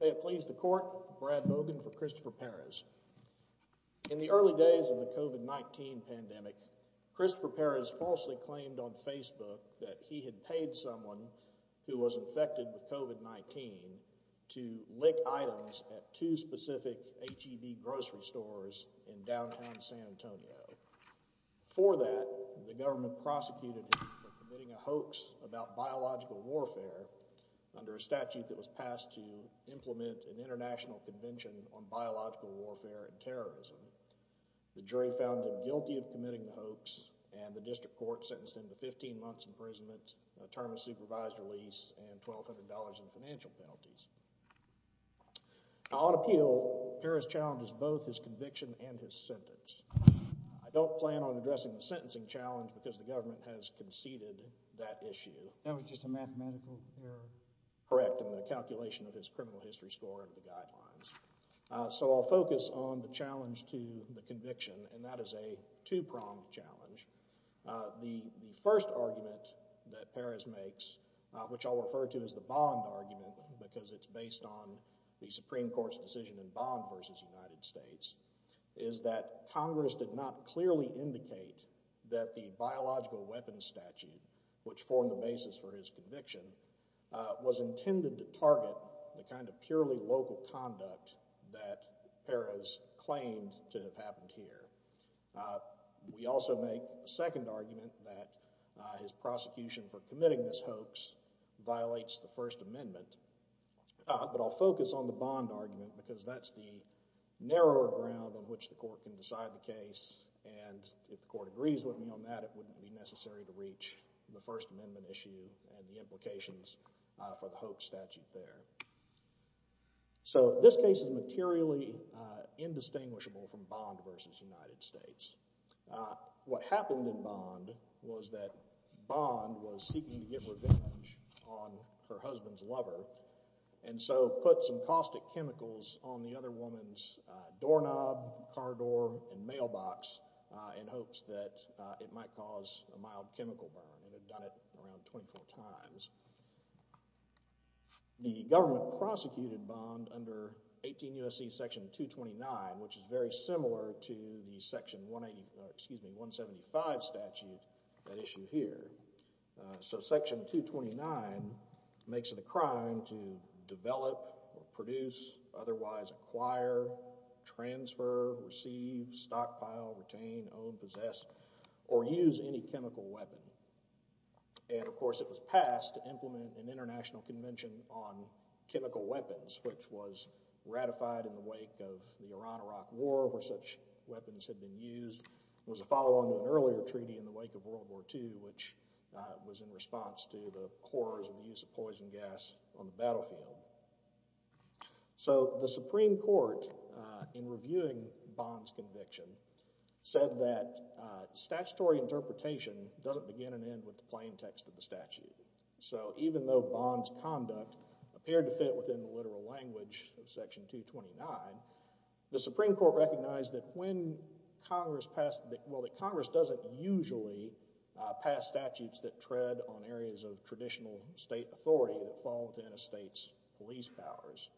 May it please the court, Brad Mogan for Christopher Perez. In the early days of the COVID-19 pandemic, Christopher Perez falsely claimed on Facebook that he had paid someone who was infected with COVID-19 to lick items at two specific HEV grocery stores in downtown San Antonio. For that, the government prosecuted him for committing a hoax about biological warfare under a statute that was passed to implement an international convention on biological warfare and terrorism. The jury found him guilty of committing the hoax, and the district court sentenced him to 15 months imprisonment, a term of supervised release, and $1,200 in financial penalties. On appeal, Perez challenges both his conviction and his sentence. I don't plan on addressing the sentencing challenge because the government has conceded that issue. That was just a mathematical error? Correct, in the calculation of his criminal history score and the guidelines. So I'll focus on the challenge to the conviction, and that is a two-pronged challenge. The first argument that Perez makes, which I'll refer to as the bond argument because it's based on the Supreme Court's decision in Bond v. United States, is that Congress did not clearly indicate that the biological weapons statute, which formed the basis for his conviction, was intended to target the kind of purely local conduct that Perez claimed to have happened here. We also make a second argument that his prosecution for committing this hoax violates the First Amendment. But I'll focus on the bond argument because that's the narrower ground on which the court can decide the case, and if the court agrees with me on that, it wouldn't be necessary to reach the First Amendment issue and the implications for the hoax statute there. So this case is materially indistinguishable from Bond v. United States. What happened in Bond was that Bond was seeking to get revenge on her husband's lover, and so put some caustic chemicals on the other woman's doorknob, car door, and mailbox in hopes that it might cause a mild chemical burn, and had done it around 24 times. The government prosecuted Bond under 18 U.S.C. Section 229, which is very similar to the 175 statute at issue here. So Section 229 makes it a crime to develop, produce, otherwise acquire, transfer, receive, stockpile, retain, own, possess, or use any chemical weapon. And of course it was passed to implement an international convention on chemical weapons, which was ratified in the wake of the Iran-Iraq War, where such weapons had been used. There was a follow-on to an earlier treaty in the wake of World War II, which was in response to the horrors of the use of poison gas on the battlefield. So the Supreme Court, in reviewing Bond's conviction, said that statutory interpretation doesn't begin and end with the plain text of the statute. So even though Bond's conduct appeared to fit within the literal language of Section 229, the Supreme Court recognized that when Congress passed, well, that Congress doesn't usually pass statutes that tread on areas of traditional state authority that fall within a state's police powers.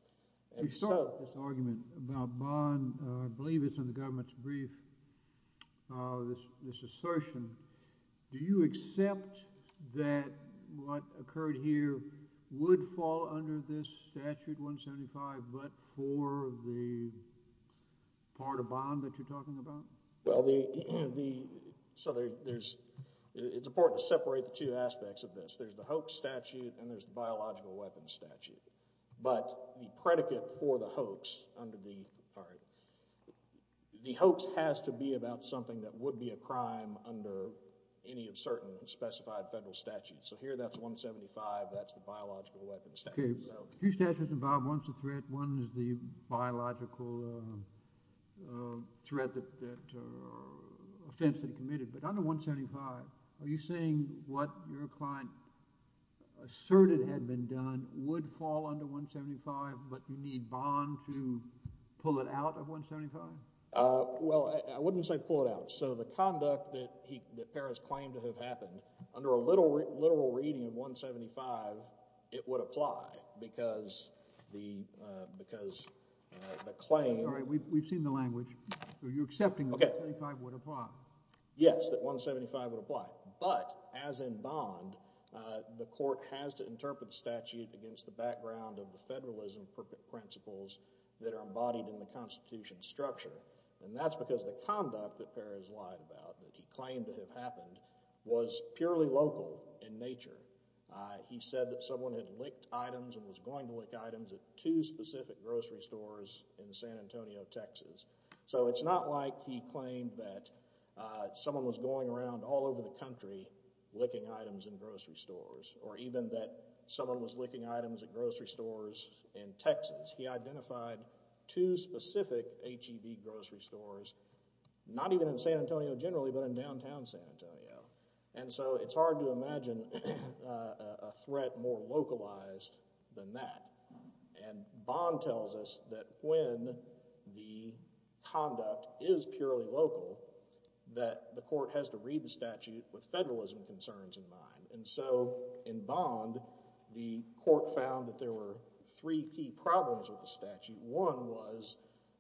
We saw this argument about Bond, I believe it's in the government's brief, this assertion. Do you accept that what occurred here would fall under this statute, 175, but for the part of Bond that you're talking about? Well, the, so there's, it's important to separate the two aspects of this. There's the hoax statute and there's the biological weapons statute. But the predicate for the hoax under the, sorry, the hoax has to be about something that would be a crime under any of certain specified federal statutes. So here that's 175, that's the biological weapons statute. Okay. Two statutes involved. One's a threat, one is the biological threat that, offense that he committed. But under 175, are you saying what your client asserted had been done would fall under 175, but you need Bond to pull it out of 175? Well, I wouldn't say pull it out. So the conduct that he, that Perez claimed to have happened, under a literal reading of 175, it would apply because the, because the claim. All right, we've seen the language. Are you accepting that 175 would apply? Yes, that 175 would apply. But as in Bond, the court has to interpret the statute against the background of the And that's because the conduct that Perez lied about, that he claimed to have happened, was purely local in nature. He said that someone had licked items and was going to lick items at two specific grocery stores in San Antonio, Texas. So it's not like he claimed that someone was going around all over the country licking items in grocery stores, or even that someone was licking items at grocery stores in Texas. He identified two specific HEB grocery stores, not even in San Antonio generally, but in downtown San Antonio. And so it's hard to imagine a threat more localized than that. And Bond tells us that when the conduct is purely local, that the court has to read the statute with federalism concerns in mind. And so in Bond, the court found that there were three key problems with the statute. One was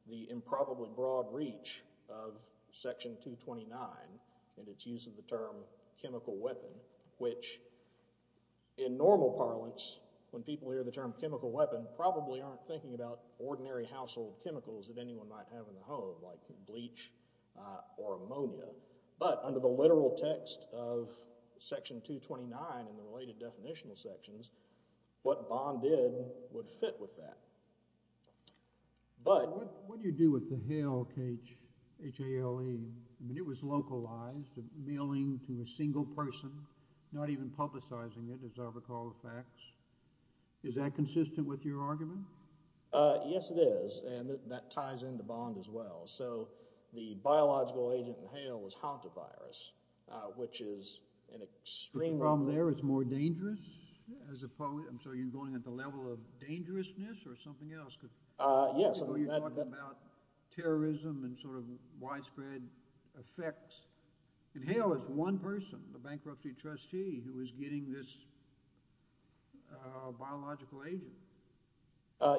the improbably broad reach of Section 229 and its use of the term chemical weapon, which in normal parlance, when people hear the term chemical weapon, probably aren't thinking about ordinary household chemicals that anyone might have in the home, like bleach or ammonia. But under the literal text of Section 229 in the related definitional sections, what Bond did would fit with that. But— What do you do with the hail, H-A-L-E? I mean, it was localized, mailing to a single person, not even publicizing it, as I recall the facts. Is that consistent with your argument? Yes, it is. And that ties into Bond as well. So the biological agent in hail was hantavirus, which is an extreme— The problem there is more dangerous as opposed—I'm sorry, you're going at the level of dangerousness or something else? Yes. You're talking about terrorism and sort of widespread effects. And hail is one person, the bankruptcy trustee, who is getting this biological agent.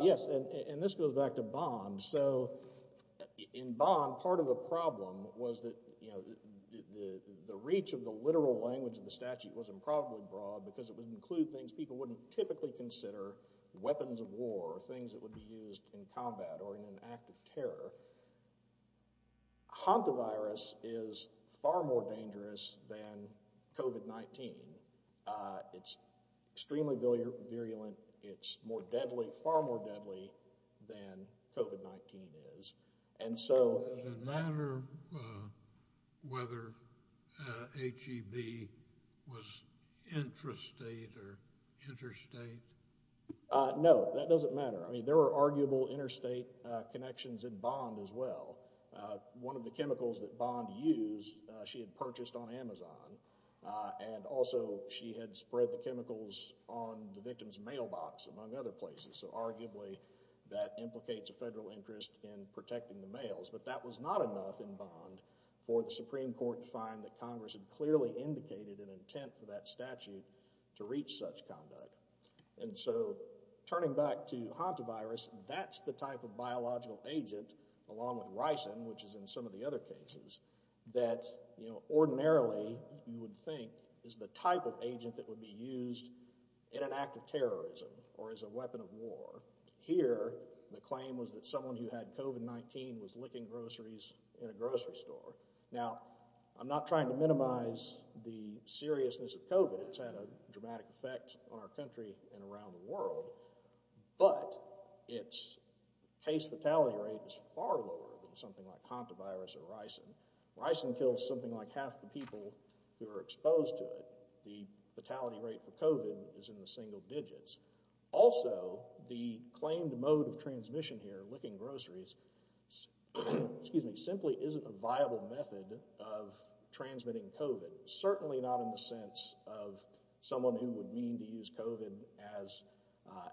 Yes, and this goes back to Bond. So in Bond, part of the problem was that, you know, the reach of the literal language of the statute wasn't probably broad because it would include things people wouldn't typically consider weapons of war or things that would be used in combat or in an act of terror. Hantavirus is far more dangerous than COVID-19. It's extremely virulent. It's more deadly, far more deadly than COVID-19 is. And so— Does it matter whether HEB was intrastate or interstate? No, that doesn't matter. I mean, there were arguable interstate connections in Bond as well. One of the chemicals that Bond used, she had purchased on Amazon. And also, she had spread the chemicals on the victim's mailbox, among other places. So arguably, that implicates a federal interest in protecting the mails. But that was not enough in Bond for the Supreme Court to find that Congress had clearly indicated an intent for that statute to reach such conduct. And so, turning back to Hantavirus, that's the type of biological agent, along with ricin, which is in some of the other cases, that ordinarily you would think is the type of agent that would be used in an act of terrorism or as a weapon of war. Here, the claim was that someone who had COVID-19 was licking groceries in a grocery store. Now, I'm not trying to minimize the seriousness of COVID. It's had a dramatic effect on our country and around the world. But its case fatality rate is far lower than something like Hantavirus or ricin. Ricin kills something like half the people who are exposed to it. The fatality rate for COVID is in the single digits. Also, the claimed mode of transmission here, licking groceries, simply isn't a viable method of transmitting COVID. Certainly not in the sense of someone who would mean to use COVID as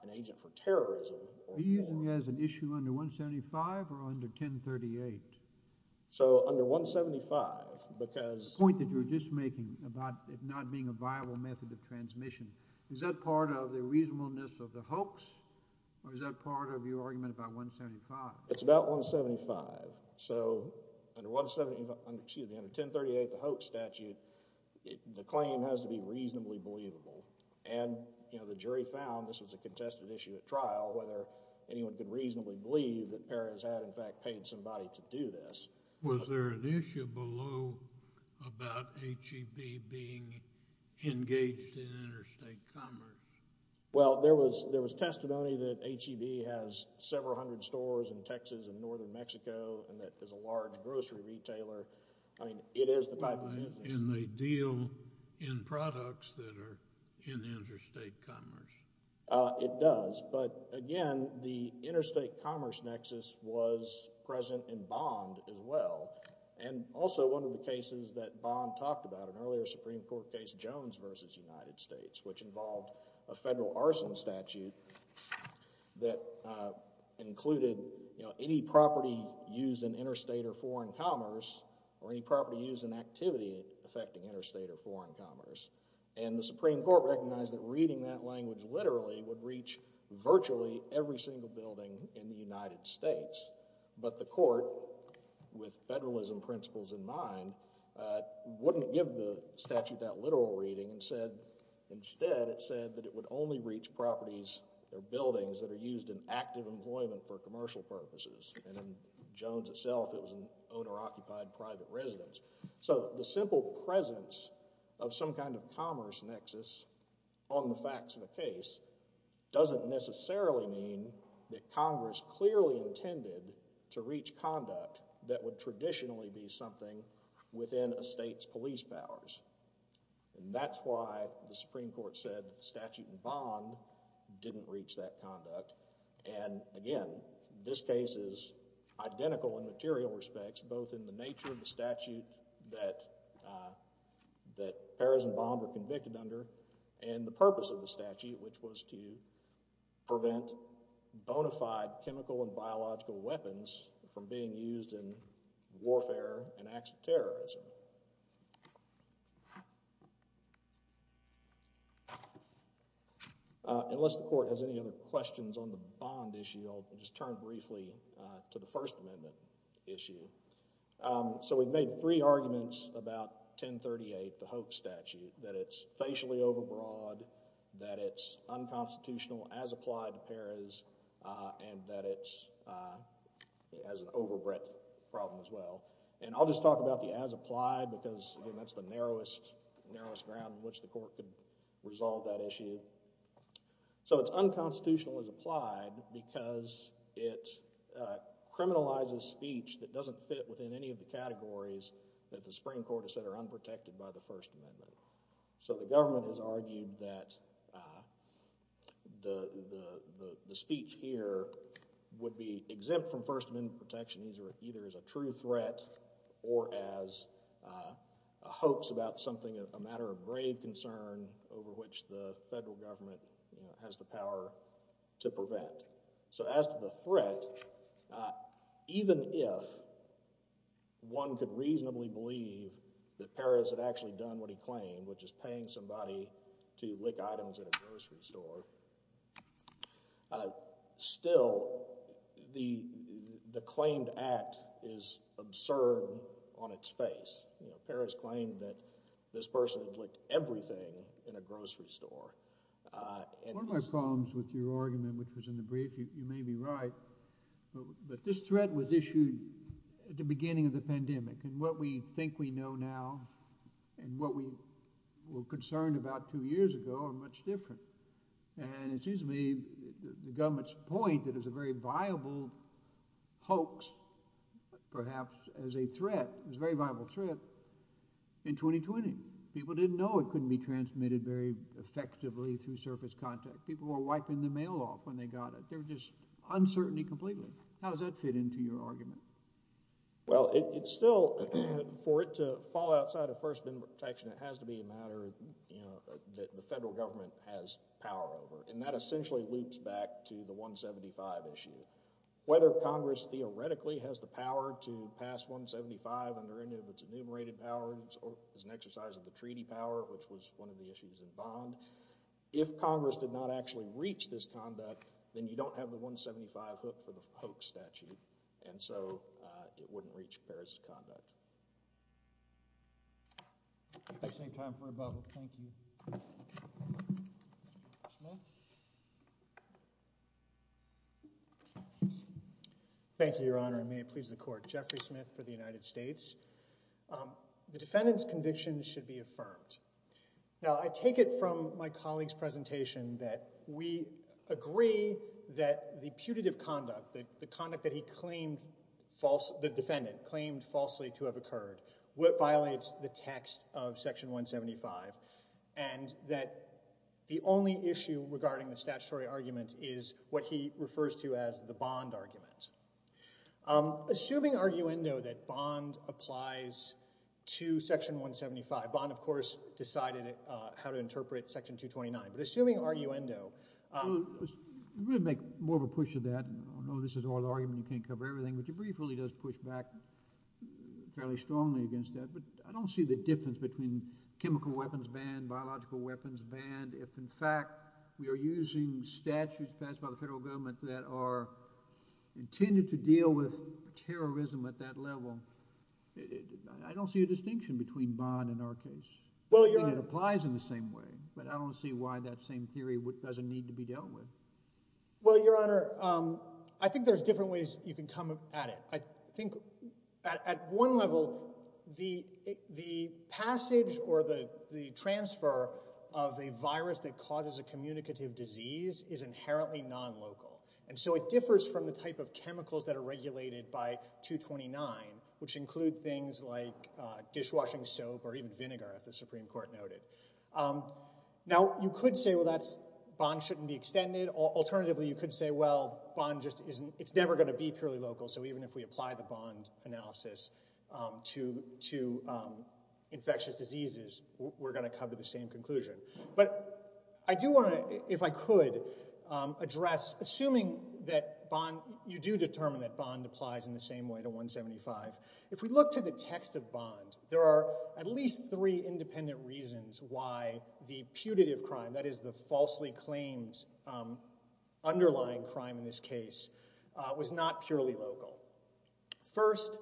an agent for terrorism. Are you using it as an issue under 175 or under 1038? So, under 175, because— The point that you were just making about it not being a viable method of transmission, is that part of the reasonableness of the hoax? Or is that part of your argument about 175? It's about 175. So, under 1038, the hoax statute, the claim has to be reasonably believable. And the jury found this was a contested issue at trial, whether anyone could reasonably believe that Perez had, in fact, paid somebody to do this. Was there an issue below about HEB being engaged in interstate commerce? Well, there was testimony that HEB has several hundred stores in Texas and northern Mexico, and that is a large grocery retailer. I mean, it is the type of business. And they deal in products that are in interstate commerce. It does. But again, the interstate commerce nexus was present in Bond as well. And also, one of the cases that Bond talked about, an earlier Supreme Court case, Jones v. United States, which involved a federal arson statute that included any property used in interstate or foreign commerce or any property used in activity affecting interstate or foreign commerce. And the Supreme Court recognized that reading that language literally would reach virtually every single building in the United States. But the court, with federalism principles in mind, wouldn't give the statute that literal reading. Instead, it said that it would only reach properties or buildings that are used in active employment for commercial purposes. And in Jones itself, it was an owner-occupied private residence. So the simple presence of some kind of commerce nexus on the facts of the case doesn't necessarily mean that Congress clearly intended to reach conduct that would traditionally be something within a state's police powers. And that's why the Supreme Court said that the statute in Bond didn't reach that conduct. And again, this case is identical in material respects, both in the nature of the statute that Paris and Bond were convicted under and the purpose of the statute, which was to prevent bona fide chemical and biological weapons from being used in warfare and acts of terrorism. Unless the court has any other questions on the Bond issue, I'll just turn briefly to the First Amendment issue. So we've made three arguments about 1038, the Hoek statute, that it's facially overbroad, that it's unconstitutional as applied to Paris, and that it has an overbreadth problem as well. And I'll just talk about the as applied because, again, that's the narrowest ground in which the court could resolve that issue. So it's unconstitutional as applied because it criminalizes speech that doesn't fit within any of the categories that the Supreme Court has said are unprotected by the First Amendment. So the government has argued that the speech here would be exempt from First Amendment protection either as a true threat or as a hoax about something, a matter of grave concern over which the federal government has the power to prevent. So as to the threat, even if one could reasonably believe that Paris had actually done what he claimed, which is paying somebody to lick items in a grocery store, still the claimed act is absurd on its face. Paris claimed that this person would lick everything in a grocery store. One of my problems with your argument, which was in the brief, you may be right, but this threat was issued at the beginning of the pandemic. And what we think we know now and what we were concerned about two years ago are much different. And it seems to me the government's point that it was a very viable hoax, perhaps as a threat, it was a very viable threat in 2020. People didn't know it couldn't be transmitted very effectively through surface contact. People were wiping the mail off when they got it. There was just uncertainty completely. How does that fit into your argument? Well, it's still, for it to fall outside of First Amendment protection, it has to be a matter that the federal government has power over. And that essentially loops back to the 175 issue. Whether Congress theoretically has the power to pass 175 under any of its enumerated powers is an exercise of the treaty power, which was one of the issues involved. If Congress did not actually reach this conduct, then you don't have the 175 hook for the hoax statute. And so it wouldn't reach Paris' conduct. Thank you, Your Honor, and may it please the court. Jeffrey Smith for the United States. The defendant's conviction should be affirmed. Now, I take it from my colleague's presentation that we agree that the putative conduct, the conduct that the defendant claimed falsely to have occurred, violates the text of Section 175, and that the only issue regarding the statutory argument is what he refers to as the Bond argument. Assuming, arguendo, that Bond applies to Section 175, Bond, of course, decided how to interpret Section 229. Assuming, arguendo. We'll make more of a push of that. I know this is all an argument, you can't cover everything, but your brief really does push back fairly strongly against that. But I don't see the difference between chemical weapons banned, biological weapons banned. If, in fact, we are using statutes passed by the federal government that are intended to deal with terrorism at that level, I don't see a distinction between Bond in our case. I think it applies in the same way, but I don't see why that same theory doesn't need to be dealt with. Well, Your Honor, I think there's different ways you can come at it. I think at one level, the passage or the transfer of a virus that causes a communicative disease is inherently non-local, and so it differs from the type of chemicals that are regulated by 229, which include things like dishwashing soap or even vinegar, as the Supreme Court noted. Now, you could say, well, Bond shouldn't be extended. Alternatively, you could say, well, it's never going to be purely local, so even if we apply the Bond analysis to infectious diseases, we're going to come to the same conclusion. But I do want to, if I could, address, assuming that you do determine that Bond applies in the same way to 175, if we look to the text of Bond, there are at least three independent reasons why the putative crime, that is the falsely claimed underlying crime in this case, was not purely local. First,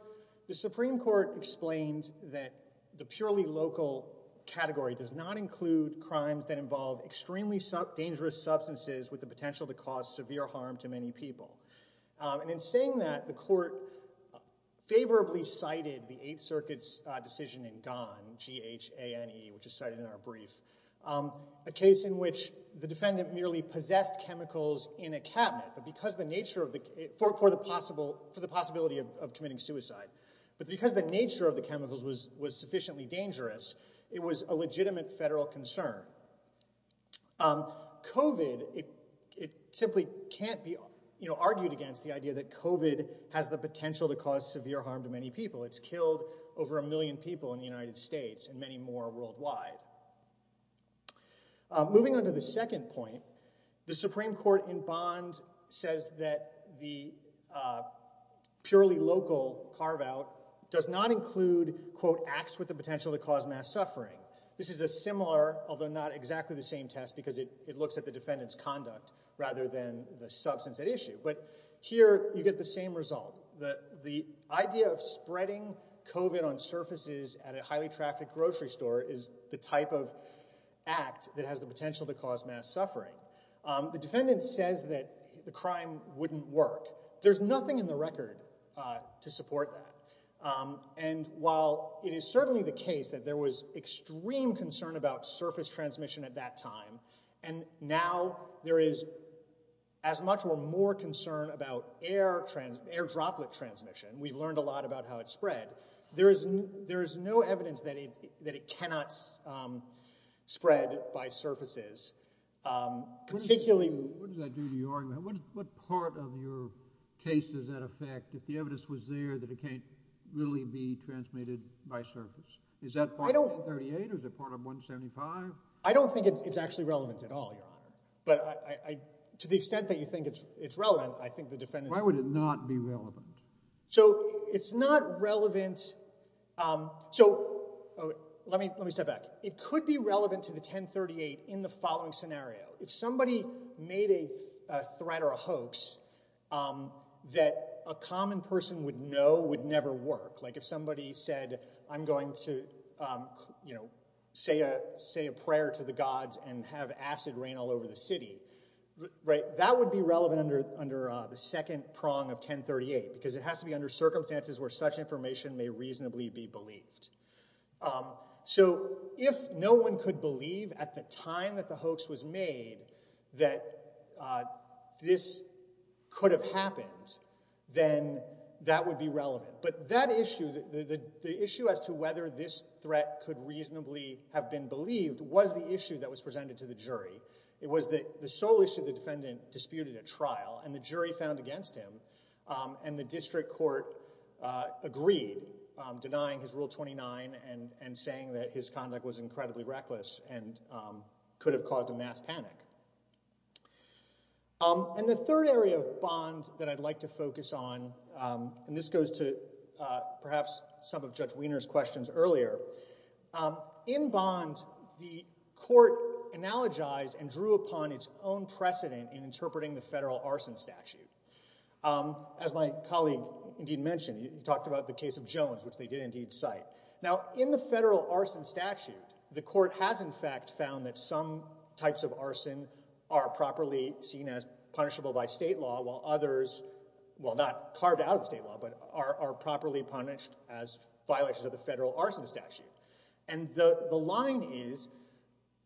the Supreme Court explains that the purely local category does not include crimes that involve extremely dangerous substances with the potential to cause severe harm to many people. And in saying that, the court favorably cited the Eighth Circuit's decision in Gahn, G-H-A-N-E, which is cited in our brief, a case in which the defendant merely possessed chemicals in a cabinet for the possibility of committing suicide. But because the nature of the chemicals was sufficiently dangerous, it was a legitimate federal concern. COVID, it simply can't be argued against the idea that COVID has the potential to cause severe harm to many people. It's killed over a million people in the United States and many more worldwide. Moving on to the second point, the Supreme Court in Bond says that the purely local carve-out does not include, quote, acts with the potential to cause mass suffering. This is a similar, although not exactly the same test, because it looks at the defendant's conduct rather than the substance at issue. But here you get the same result. The idea of spreading COVID on surfaces at a highly trafficked grocery store is the type of act that has the potential to cause mass suffering. The defendant says that the crime wouldn't work. There's nothing in the record to support that. And while it is certainly the case that there was extreme concern about surface transmission at that time, and now there is as much or more concern about air droplet transmission, we've learned a lot about how it spread, there is no evidence that it cannot spread by surfaces. What does that do to your argument? What part of your case does that affect if the evidence was there that it can't really be transmitted by surface? Is that part of 1038 or is it part of 175? I don't think it's actually relevant at all, Your Honor. But to the extent that you think it's relevant, I think the defendant's... Why would it not be relevant? So it's not relevant... So let me step back. It could be relevant to the 1038 in the following scenario. If somebody made a threat or a hoax that a common person would know would never work, like if somebody said, I'm going to say a prayer to the gods and have acid rain all over the city, that would be relevant under the second prong of 1038 because it has to be under circumstances where such information may reasonably be believed. So if no one could believe at the time that the hoax was made that this could have happened, then that would be relevant. But the issue as to whether this threat could reasonably have been believed was the issue that was presented to the jury. It was the sole issue the defendant disputed at trial, and the jury found against him, and the district court agreed, denying his Rule 29 and saying that his conduct was incredibly reckless and could have caused a mass panic. And the third area of Bond that I'd like to focus on, and this goes to perhaps some of Judge Wiener's questions earlier, in Bond, the court analogized and drew upon its own precedent in interpreting the federal arson statute. As my colleague, indeed, mentioned, he talked about the case of Jones, which they did indeed cite. Now, in the federal arson statute, the court has, in fact, found that some types of arson are properly seen as punishable by state law, while others, well, not carved out of state law, but are properly punished as violations of the federal arson statute. And the line is,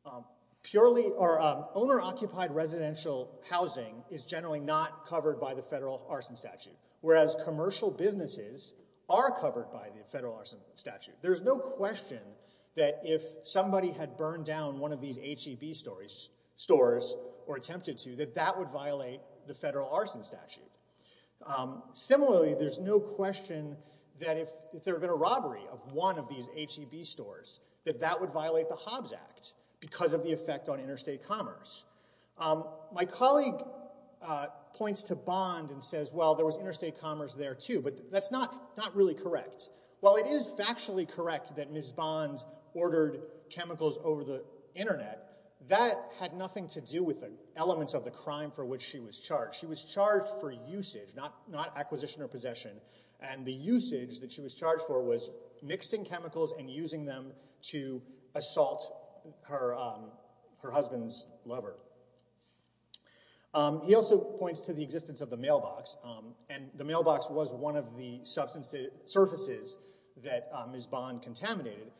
owner-occupied residential housing is generally not covered by the federal arson statute, whereas commercial businesses are covered by the federal arson statute. There's no question that if somebody had burned down one of these H-E-B stores or attempted to, that that would violate the federal arson statute. Similarly, there's no question that if there had been a robbery of one of these H-E-B stores, that that would violate the Hobbs Act because of the effect on interstate commerce. My colleague points to Bond and says, well, there was interstate commerce there, too, but that's not really correct. While it is factually correct that Ms. Bond ordered chemicals over the Internet, that had nothing to do with the elements of the crime for which she was charged. She was charged for usage, not acquisition or possession, and the usage that she was charged for was mixing chemicals and using them to assault her husband's lover. He also points to the existence of the mailbox, and the mailbox was one of the surfaces that Ms. Bond contaminated.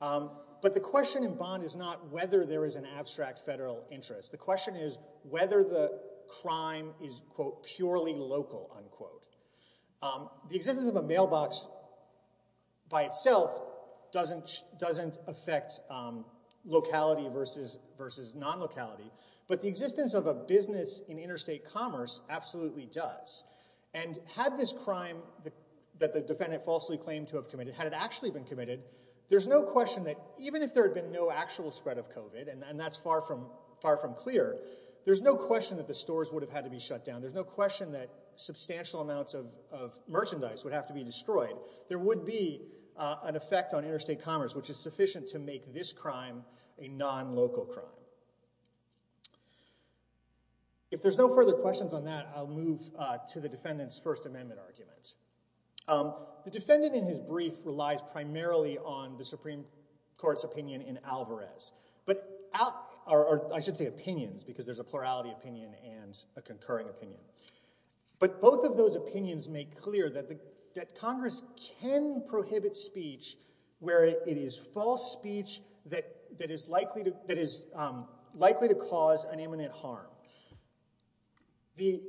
But the question in Bond is not whether there is an abstract federal interest. The question is whether the crime is, quote, purely local, unquote. The existence of a mailbox by itself doesn't affect locality versus non-locality, but the existence of a business in interstate commerce absolutely does. And had this crime that the defendant falsely claimed to have committed, had it actually been committed, there's no question that even if there had been no actual spread of COVID, and that's far from clear, there's no question that the stores would have had to be shut down. There's no question that substantial amounts of merchandise would have to be destroyed. There would be an effect on interstate commerce which is sufficient to make this crime a non-local crime. If there's no further questions on that, I'll move to the defendant's First Amendment argument. The defendant in his brief relies primarily on the Supreme Court's opinion in Alvarez, or I should say opinions, because there's a plurality opinion and a concurring opinion. But both of those opinions make clear that Congress can prohibit speech where it is false speech that is likely to cause an imminent harm. The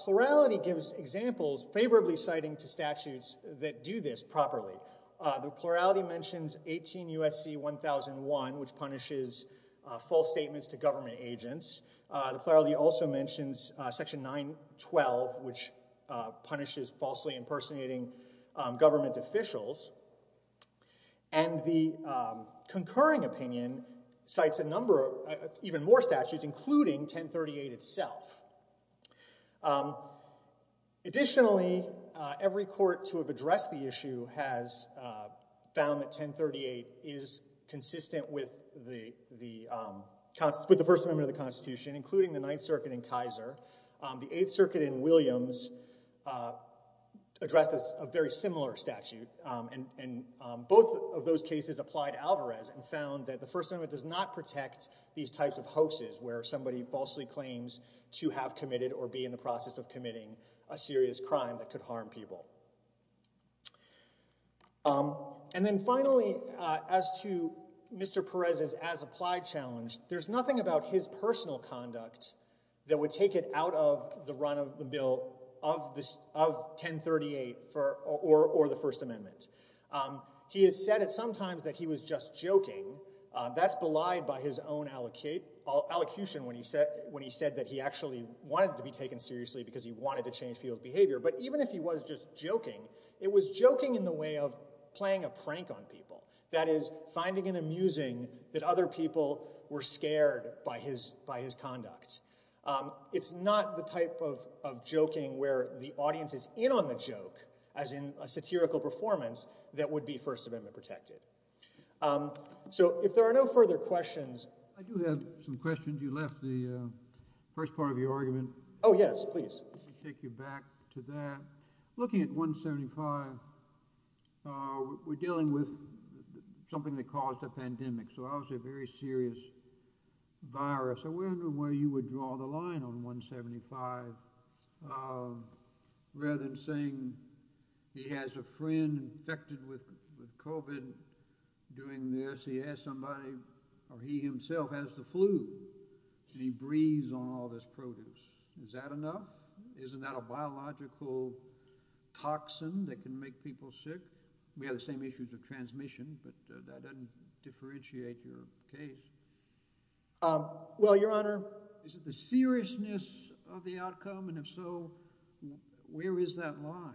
plurality gives examples, favorably citing to statutes that do this properly. The plurality mentions 18 U.S.C. 1001, which punishes false statements to government agents. The plurality also mentions Section 912, which punishes falsely impersonating government officials. And the concurring opinion cites a number of even more statutes, including 1038 itself. Additionally, every court to have addressed the issue has found that 1038 is consistent with the First Amendment of the Constitution, including the Ninth Circuit in Kaiser. The Eighth Circuit in Williams addressed a very similar statute, and both of those cases applied Alvarez and found that the First Amendment does not protect these types of hoaxes where somebody falsely claims to have committed or be in the process of committing a serious crime that could harm people. And then finally, as to Mr. Perez's as-applied challenge, there's nothing about his personal conduct that would take it out of the run of the bill of 1038 or the First Amendment. He has said at some times that he was just joking. That's belied by his own allocution when he said that he actually wanted to be taken seriously because he wanted to change people's behavior. But even if he was just joking, it was joking in the way of playing a prank on people. That is, finding it amusing that other people were scared by his conduct. It's not the type of joking where the audience is in on the joke, as in a satirical performance, that would be First Amendment protected. So if there are no further questions... I do have some questions. You left the first part of your argument. Oh, yes, please. Let me take you back to that. Looking at 175, we're dealing with something that caused a pandemic, so obviously a very serious virus. I wonder where you would draw the line on 175 rather than saying he has a friend infected with COVID doing this. He has somebody... He himself has the flu, and he breathes on all this produce. Is that enough? Isn't that a biological toxin that can make people sick? We have the same issues of transmission, but that doesn't differentiate your case. Well, Your Honor... Is it the seriousness of the outcome? And if so, where is that line?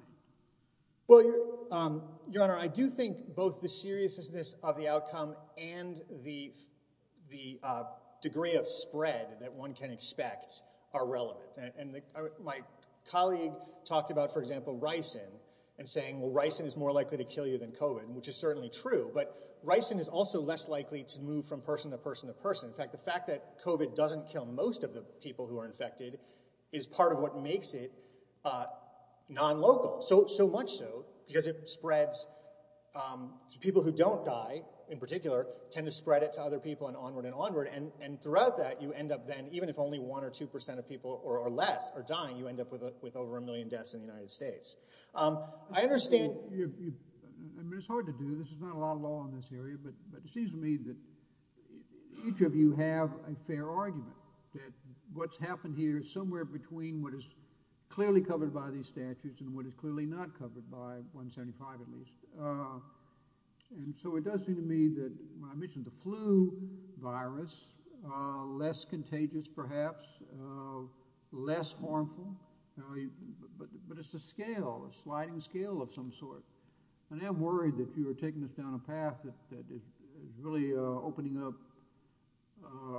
Well, Your Honor, I do think both the seriousness of the outcome and the degree of spread that one can expect are relevant. My colleague talked about, for example, ricin and saying, well, ricin is more likely to kill you than COVID, which is certainly true, but ricin is also less likely to move from person to person to person. In fact, the fact that COVID doesn't kill most of the people who are infected is part of what makes it non-local, so much so because it spreads... tend to spread it to other people and onward and onward, and throughout that, you end up then, even if only 1% or 2% of people or less are dying, you end up with over a million deaths in the United States. I understand... I mean, it's hard to do. There's not a lot of law in this area, but it seems to me that each of you have a fair argument that what's happened here is somewhere between what is clearly covered by these statutes and what is clearly not covered by 175 at least. And so it does seem to me that... I mentioned the flu virus, less contagious perhaps, less harmful, but it's a scale, a sliding scale of some sort, and I'm worried that if you were taking this down a path that it's really opening up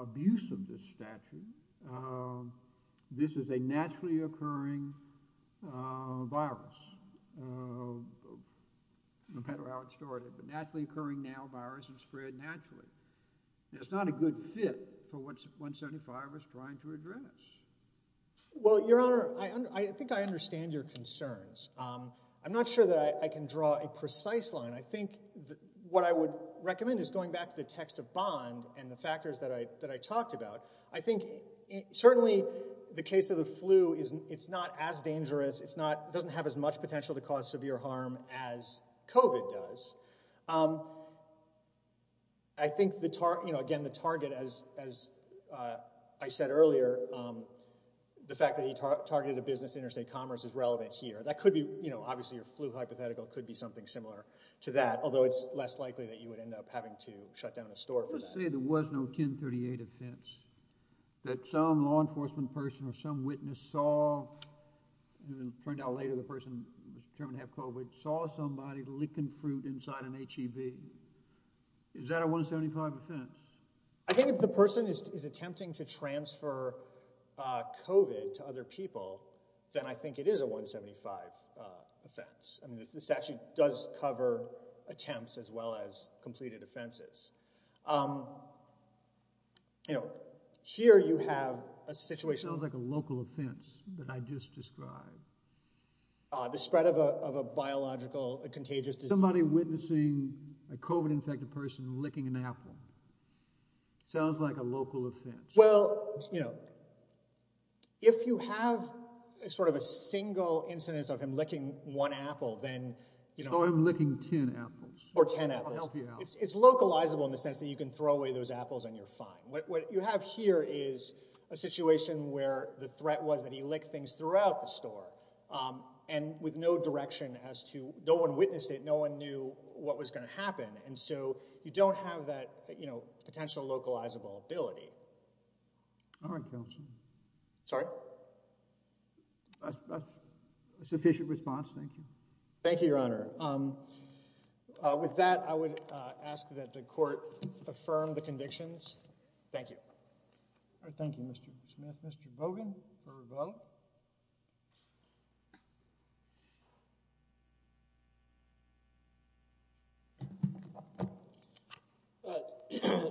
abuse of this statute. This is a naturally occurring virus. No matter how it started, but naturally occurring now virus and spread naturally. It's not a good fit for what 175 is trying to address. Well, Your Honor, I think I understand your concerns. I'm not sure that I can draw a precise line. I think what I would recommend is going back to the text of Bond and the factors that I talked about. I think certainly the case of the flu, it's not as dangerous, it doesn't have as much potential to cause severe harm as COVID does. I think, again, the target, as I said earlier, the fact that he targeted a business, Interstate Commerce, is relevant here. That could be, obviously, your flu hypothetical could be something similar to that, although it's less likely that you would end up having to shut down a store for that. Let's say there was no 1038 offense that some law enforcement person or some witness saw and then found out later the person was determined to have COVID, saw somebody licking fruit inside an HEV. Is that a 175 offense? I think if the person is attempting to transfer COVID to other people, then I think it is a 175 offense. I mean, this actually does cover attempts as well as completed offenses. You know, here you have a situation... Sounds like a local offense that I just described. The spread of a biological contagious disease. Somebody witnessing a COVID-infected person licking an apple. Sounds like a local offense. Well, you know, if you have sort of a single incidence of him licking one apple, then... Or him licking 10 apples. Or 10 apples. It's localizable in the sense that you can throw away those apples and you're fine. What you have here is a situation where the threat was that he licked things throughout the store and with no direction as to... No one witnessed it. No one knew what was going to happen. And so you don't have that, you know, potential localizable ability. All right, counsel. Sorry? That's a sufficient response. Thank you. Thank you, Your Honor. With that, I would ask that the court affirm the convictions. Thank you. All right, thank you, Mr. Smith. Mr. Bogan for a vote.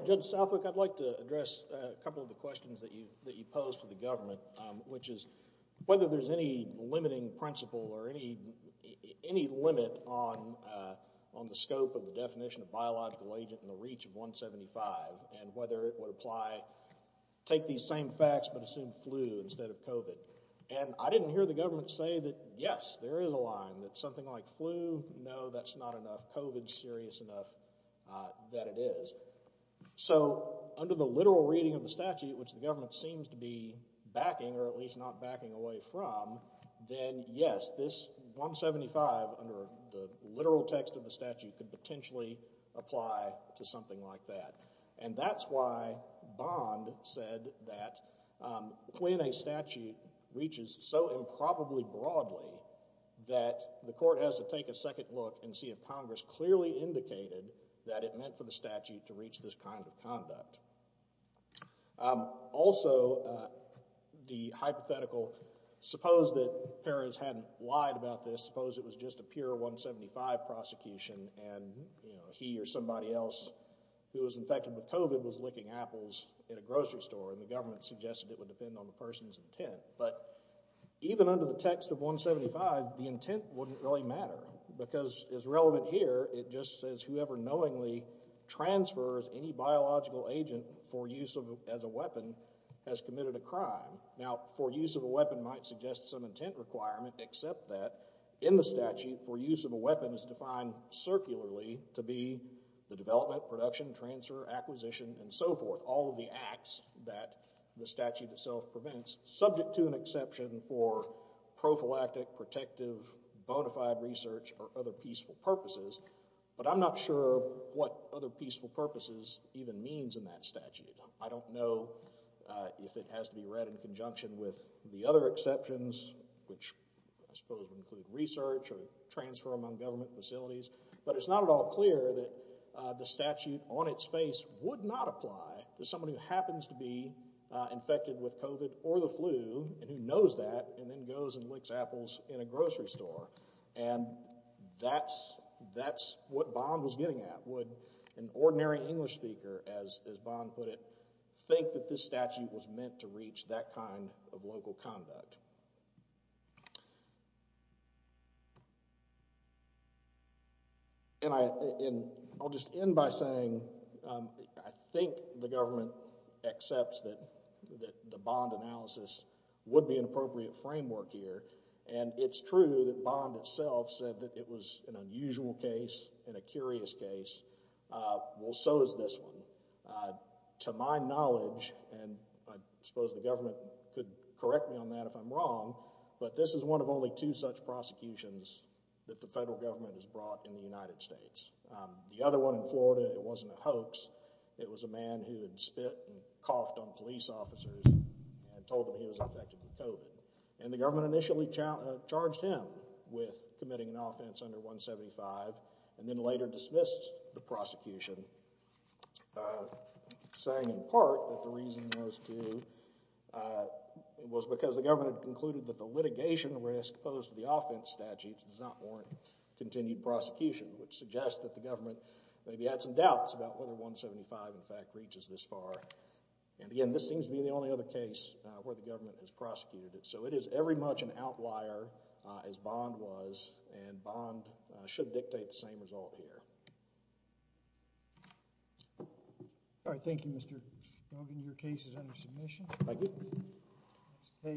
Judge Southwick, I'd like to address a couple of the questions that you posed to the government, which is whether there's any limiting principle or any limit on the scope of the definition of biological agent in the reach of 175 and whether it would apply... Take these same facts but assume flu instead of COVID. And I didn't hear the government say that, yes, there is a line that something like flu, no, that's not enough. COVID's serious enough that it is. So under the literal reading of the statute, which the government seems to be backing or at least not backing away from, then yes, this 175 under the literal text of the statute could potentially apply to something like that. And that's why Bond said that when a statute reaches so improbably broadly that the court has to take a second look and see if Congress clearly indicated that it meant for the statute to reach this kind of conduct. Also, the hypothetical... Suppose that Peres hadn't lied about this. Suppose it was just a pure 175 prosecution and he or somebody else who was infected with COVID was licking apples in a grocery store and the government suggested it would depend on the person's intent. But even under the text of 175, the intent wouldn't really matter because as relevant here, it just says whoever knowingly transfers any biological agent for use as a weapon has committed a crime. Now, for use of a weapon might suggest some intent requirement except that in the statute for use of a weapon is defined circularly to be the development, production, transfer, acquisition, and so forth, all of the acts that the statute itself prevents subject to an exception for prophylactic, protective, bona fide research, or other peaceful purposes. But I'm not sure what other peaceful purposes even means in that statute. I don't know if it has to be read in conjunction with the other exceptions which I suppose would include research or transfer among government facilities. But it's not at all clear that the statute on its face would not apply to somebody who happens to be infected with COVID or the flu and who knows that and then goes and licks apples in a grocery store. And that's what Bond was getting at. Would an ordinary English speaker, as Bond put it, think that this statute was meant to reach that kind of local conduct? And I'll just end by saying I think the government accepts that the Bond analysis would be an appropriate framework here. And it's true that Bond itself said that it was an unusual case and a curious case. Well, so is this one. To my knowledge, and I suppose the government could correct me on that if I'm wrong, but this is one of only two such prosecutions that the federal government has brought in the United States. The other one in Florida, it wasn't a hoax. It was a man who had spit and coughed on police officers and told them he was infected with COVID. And the government initially charged him with committing an offense under 175 and then later dismissed the prosecution, saying in part that the reason those two was because the government had concluded that the litigation risk posed to the offense statute does not warrant continued prosecution, which suggests that the government maybe had some doubts about whether 175 in fact reaches this far. And again, this seems to be the only other case where the government has prosecuted it. So it is every much an outlier, as Bond was, and Bond should dictate the same result here. All right. Thank you, Mr. Logan. Your case is under submission. Thank you.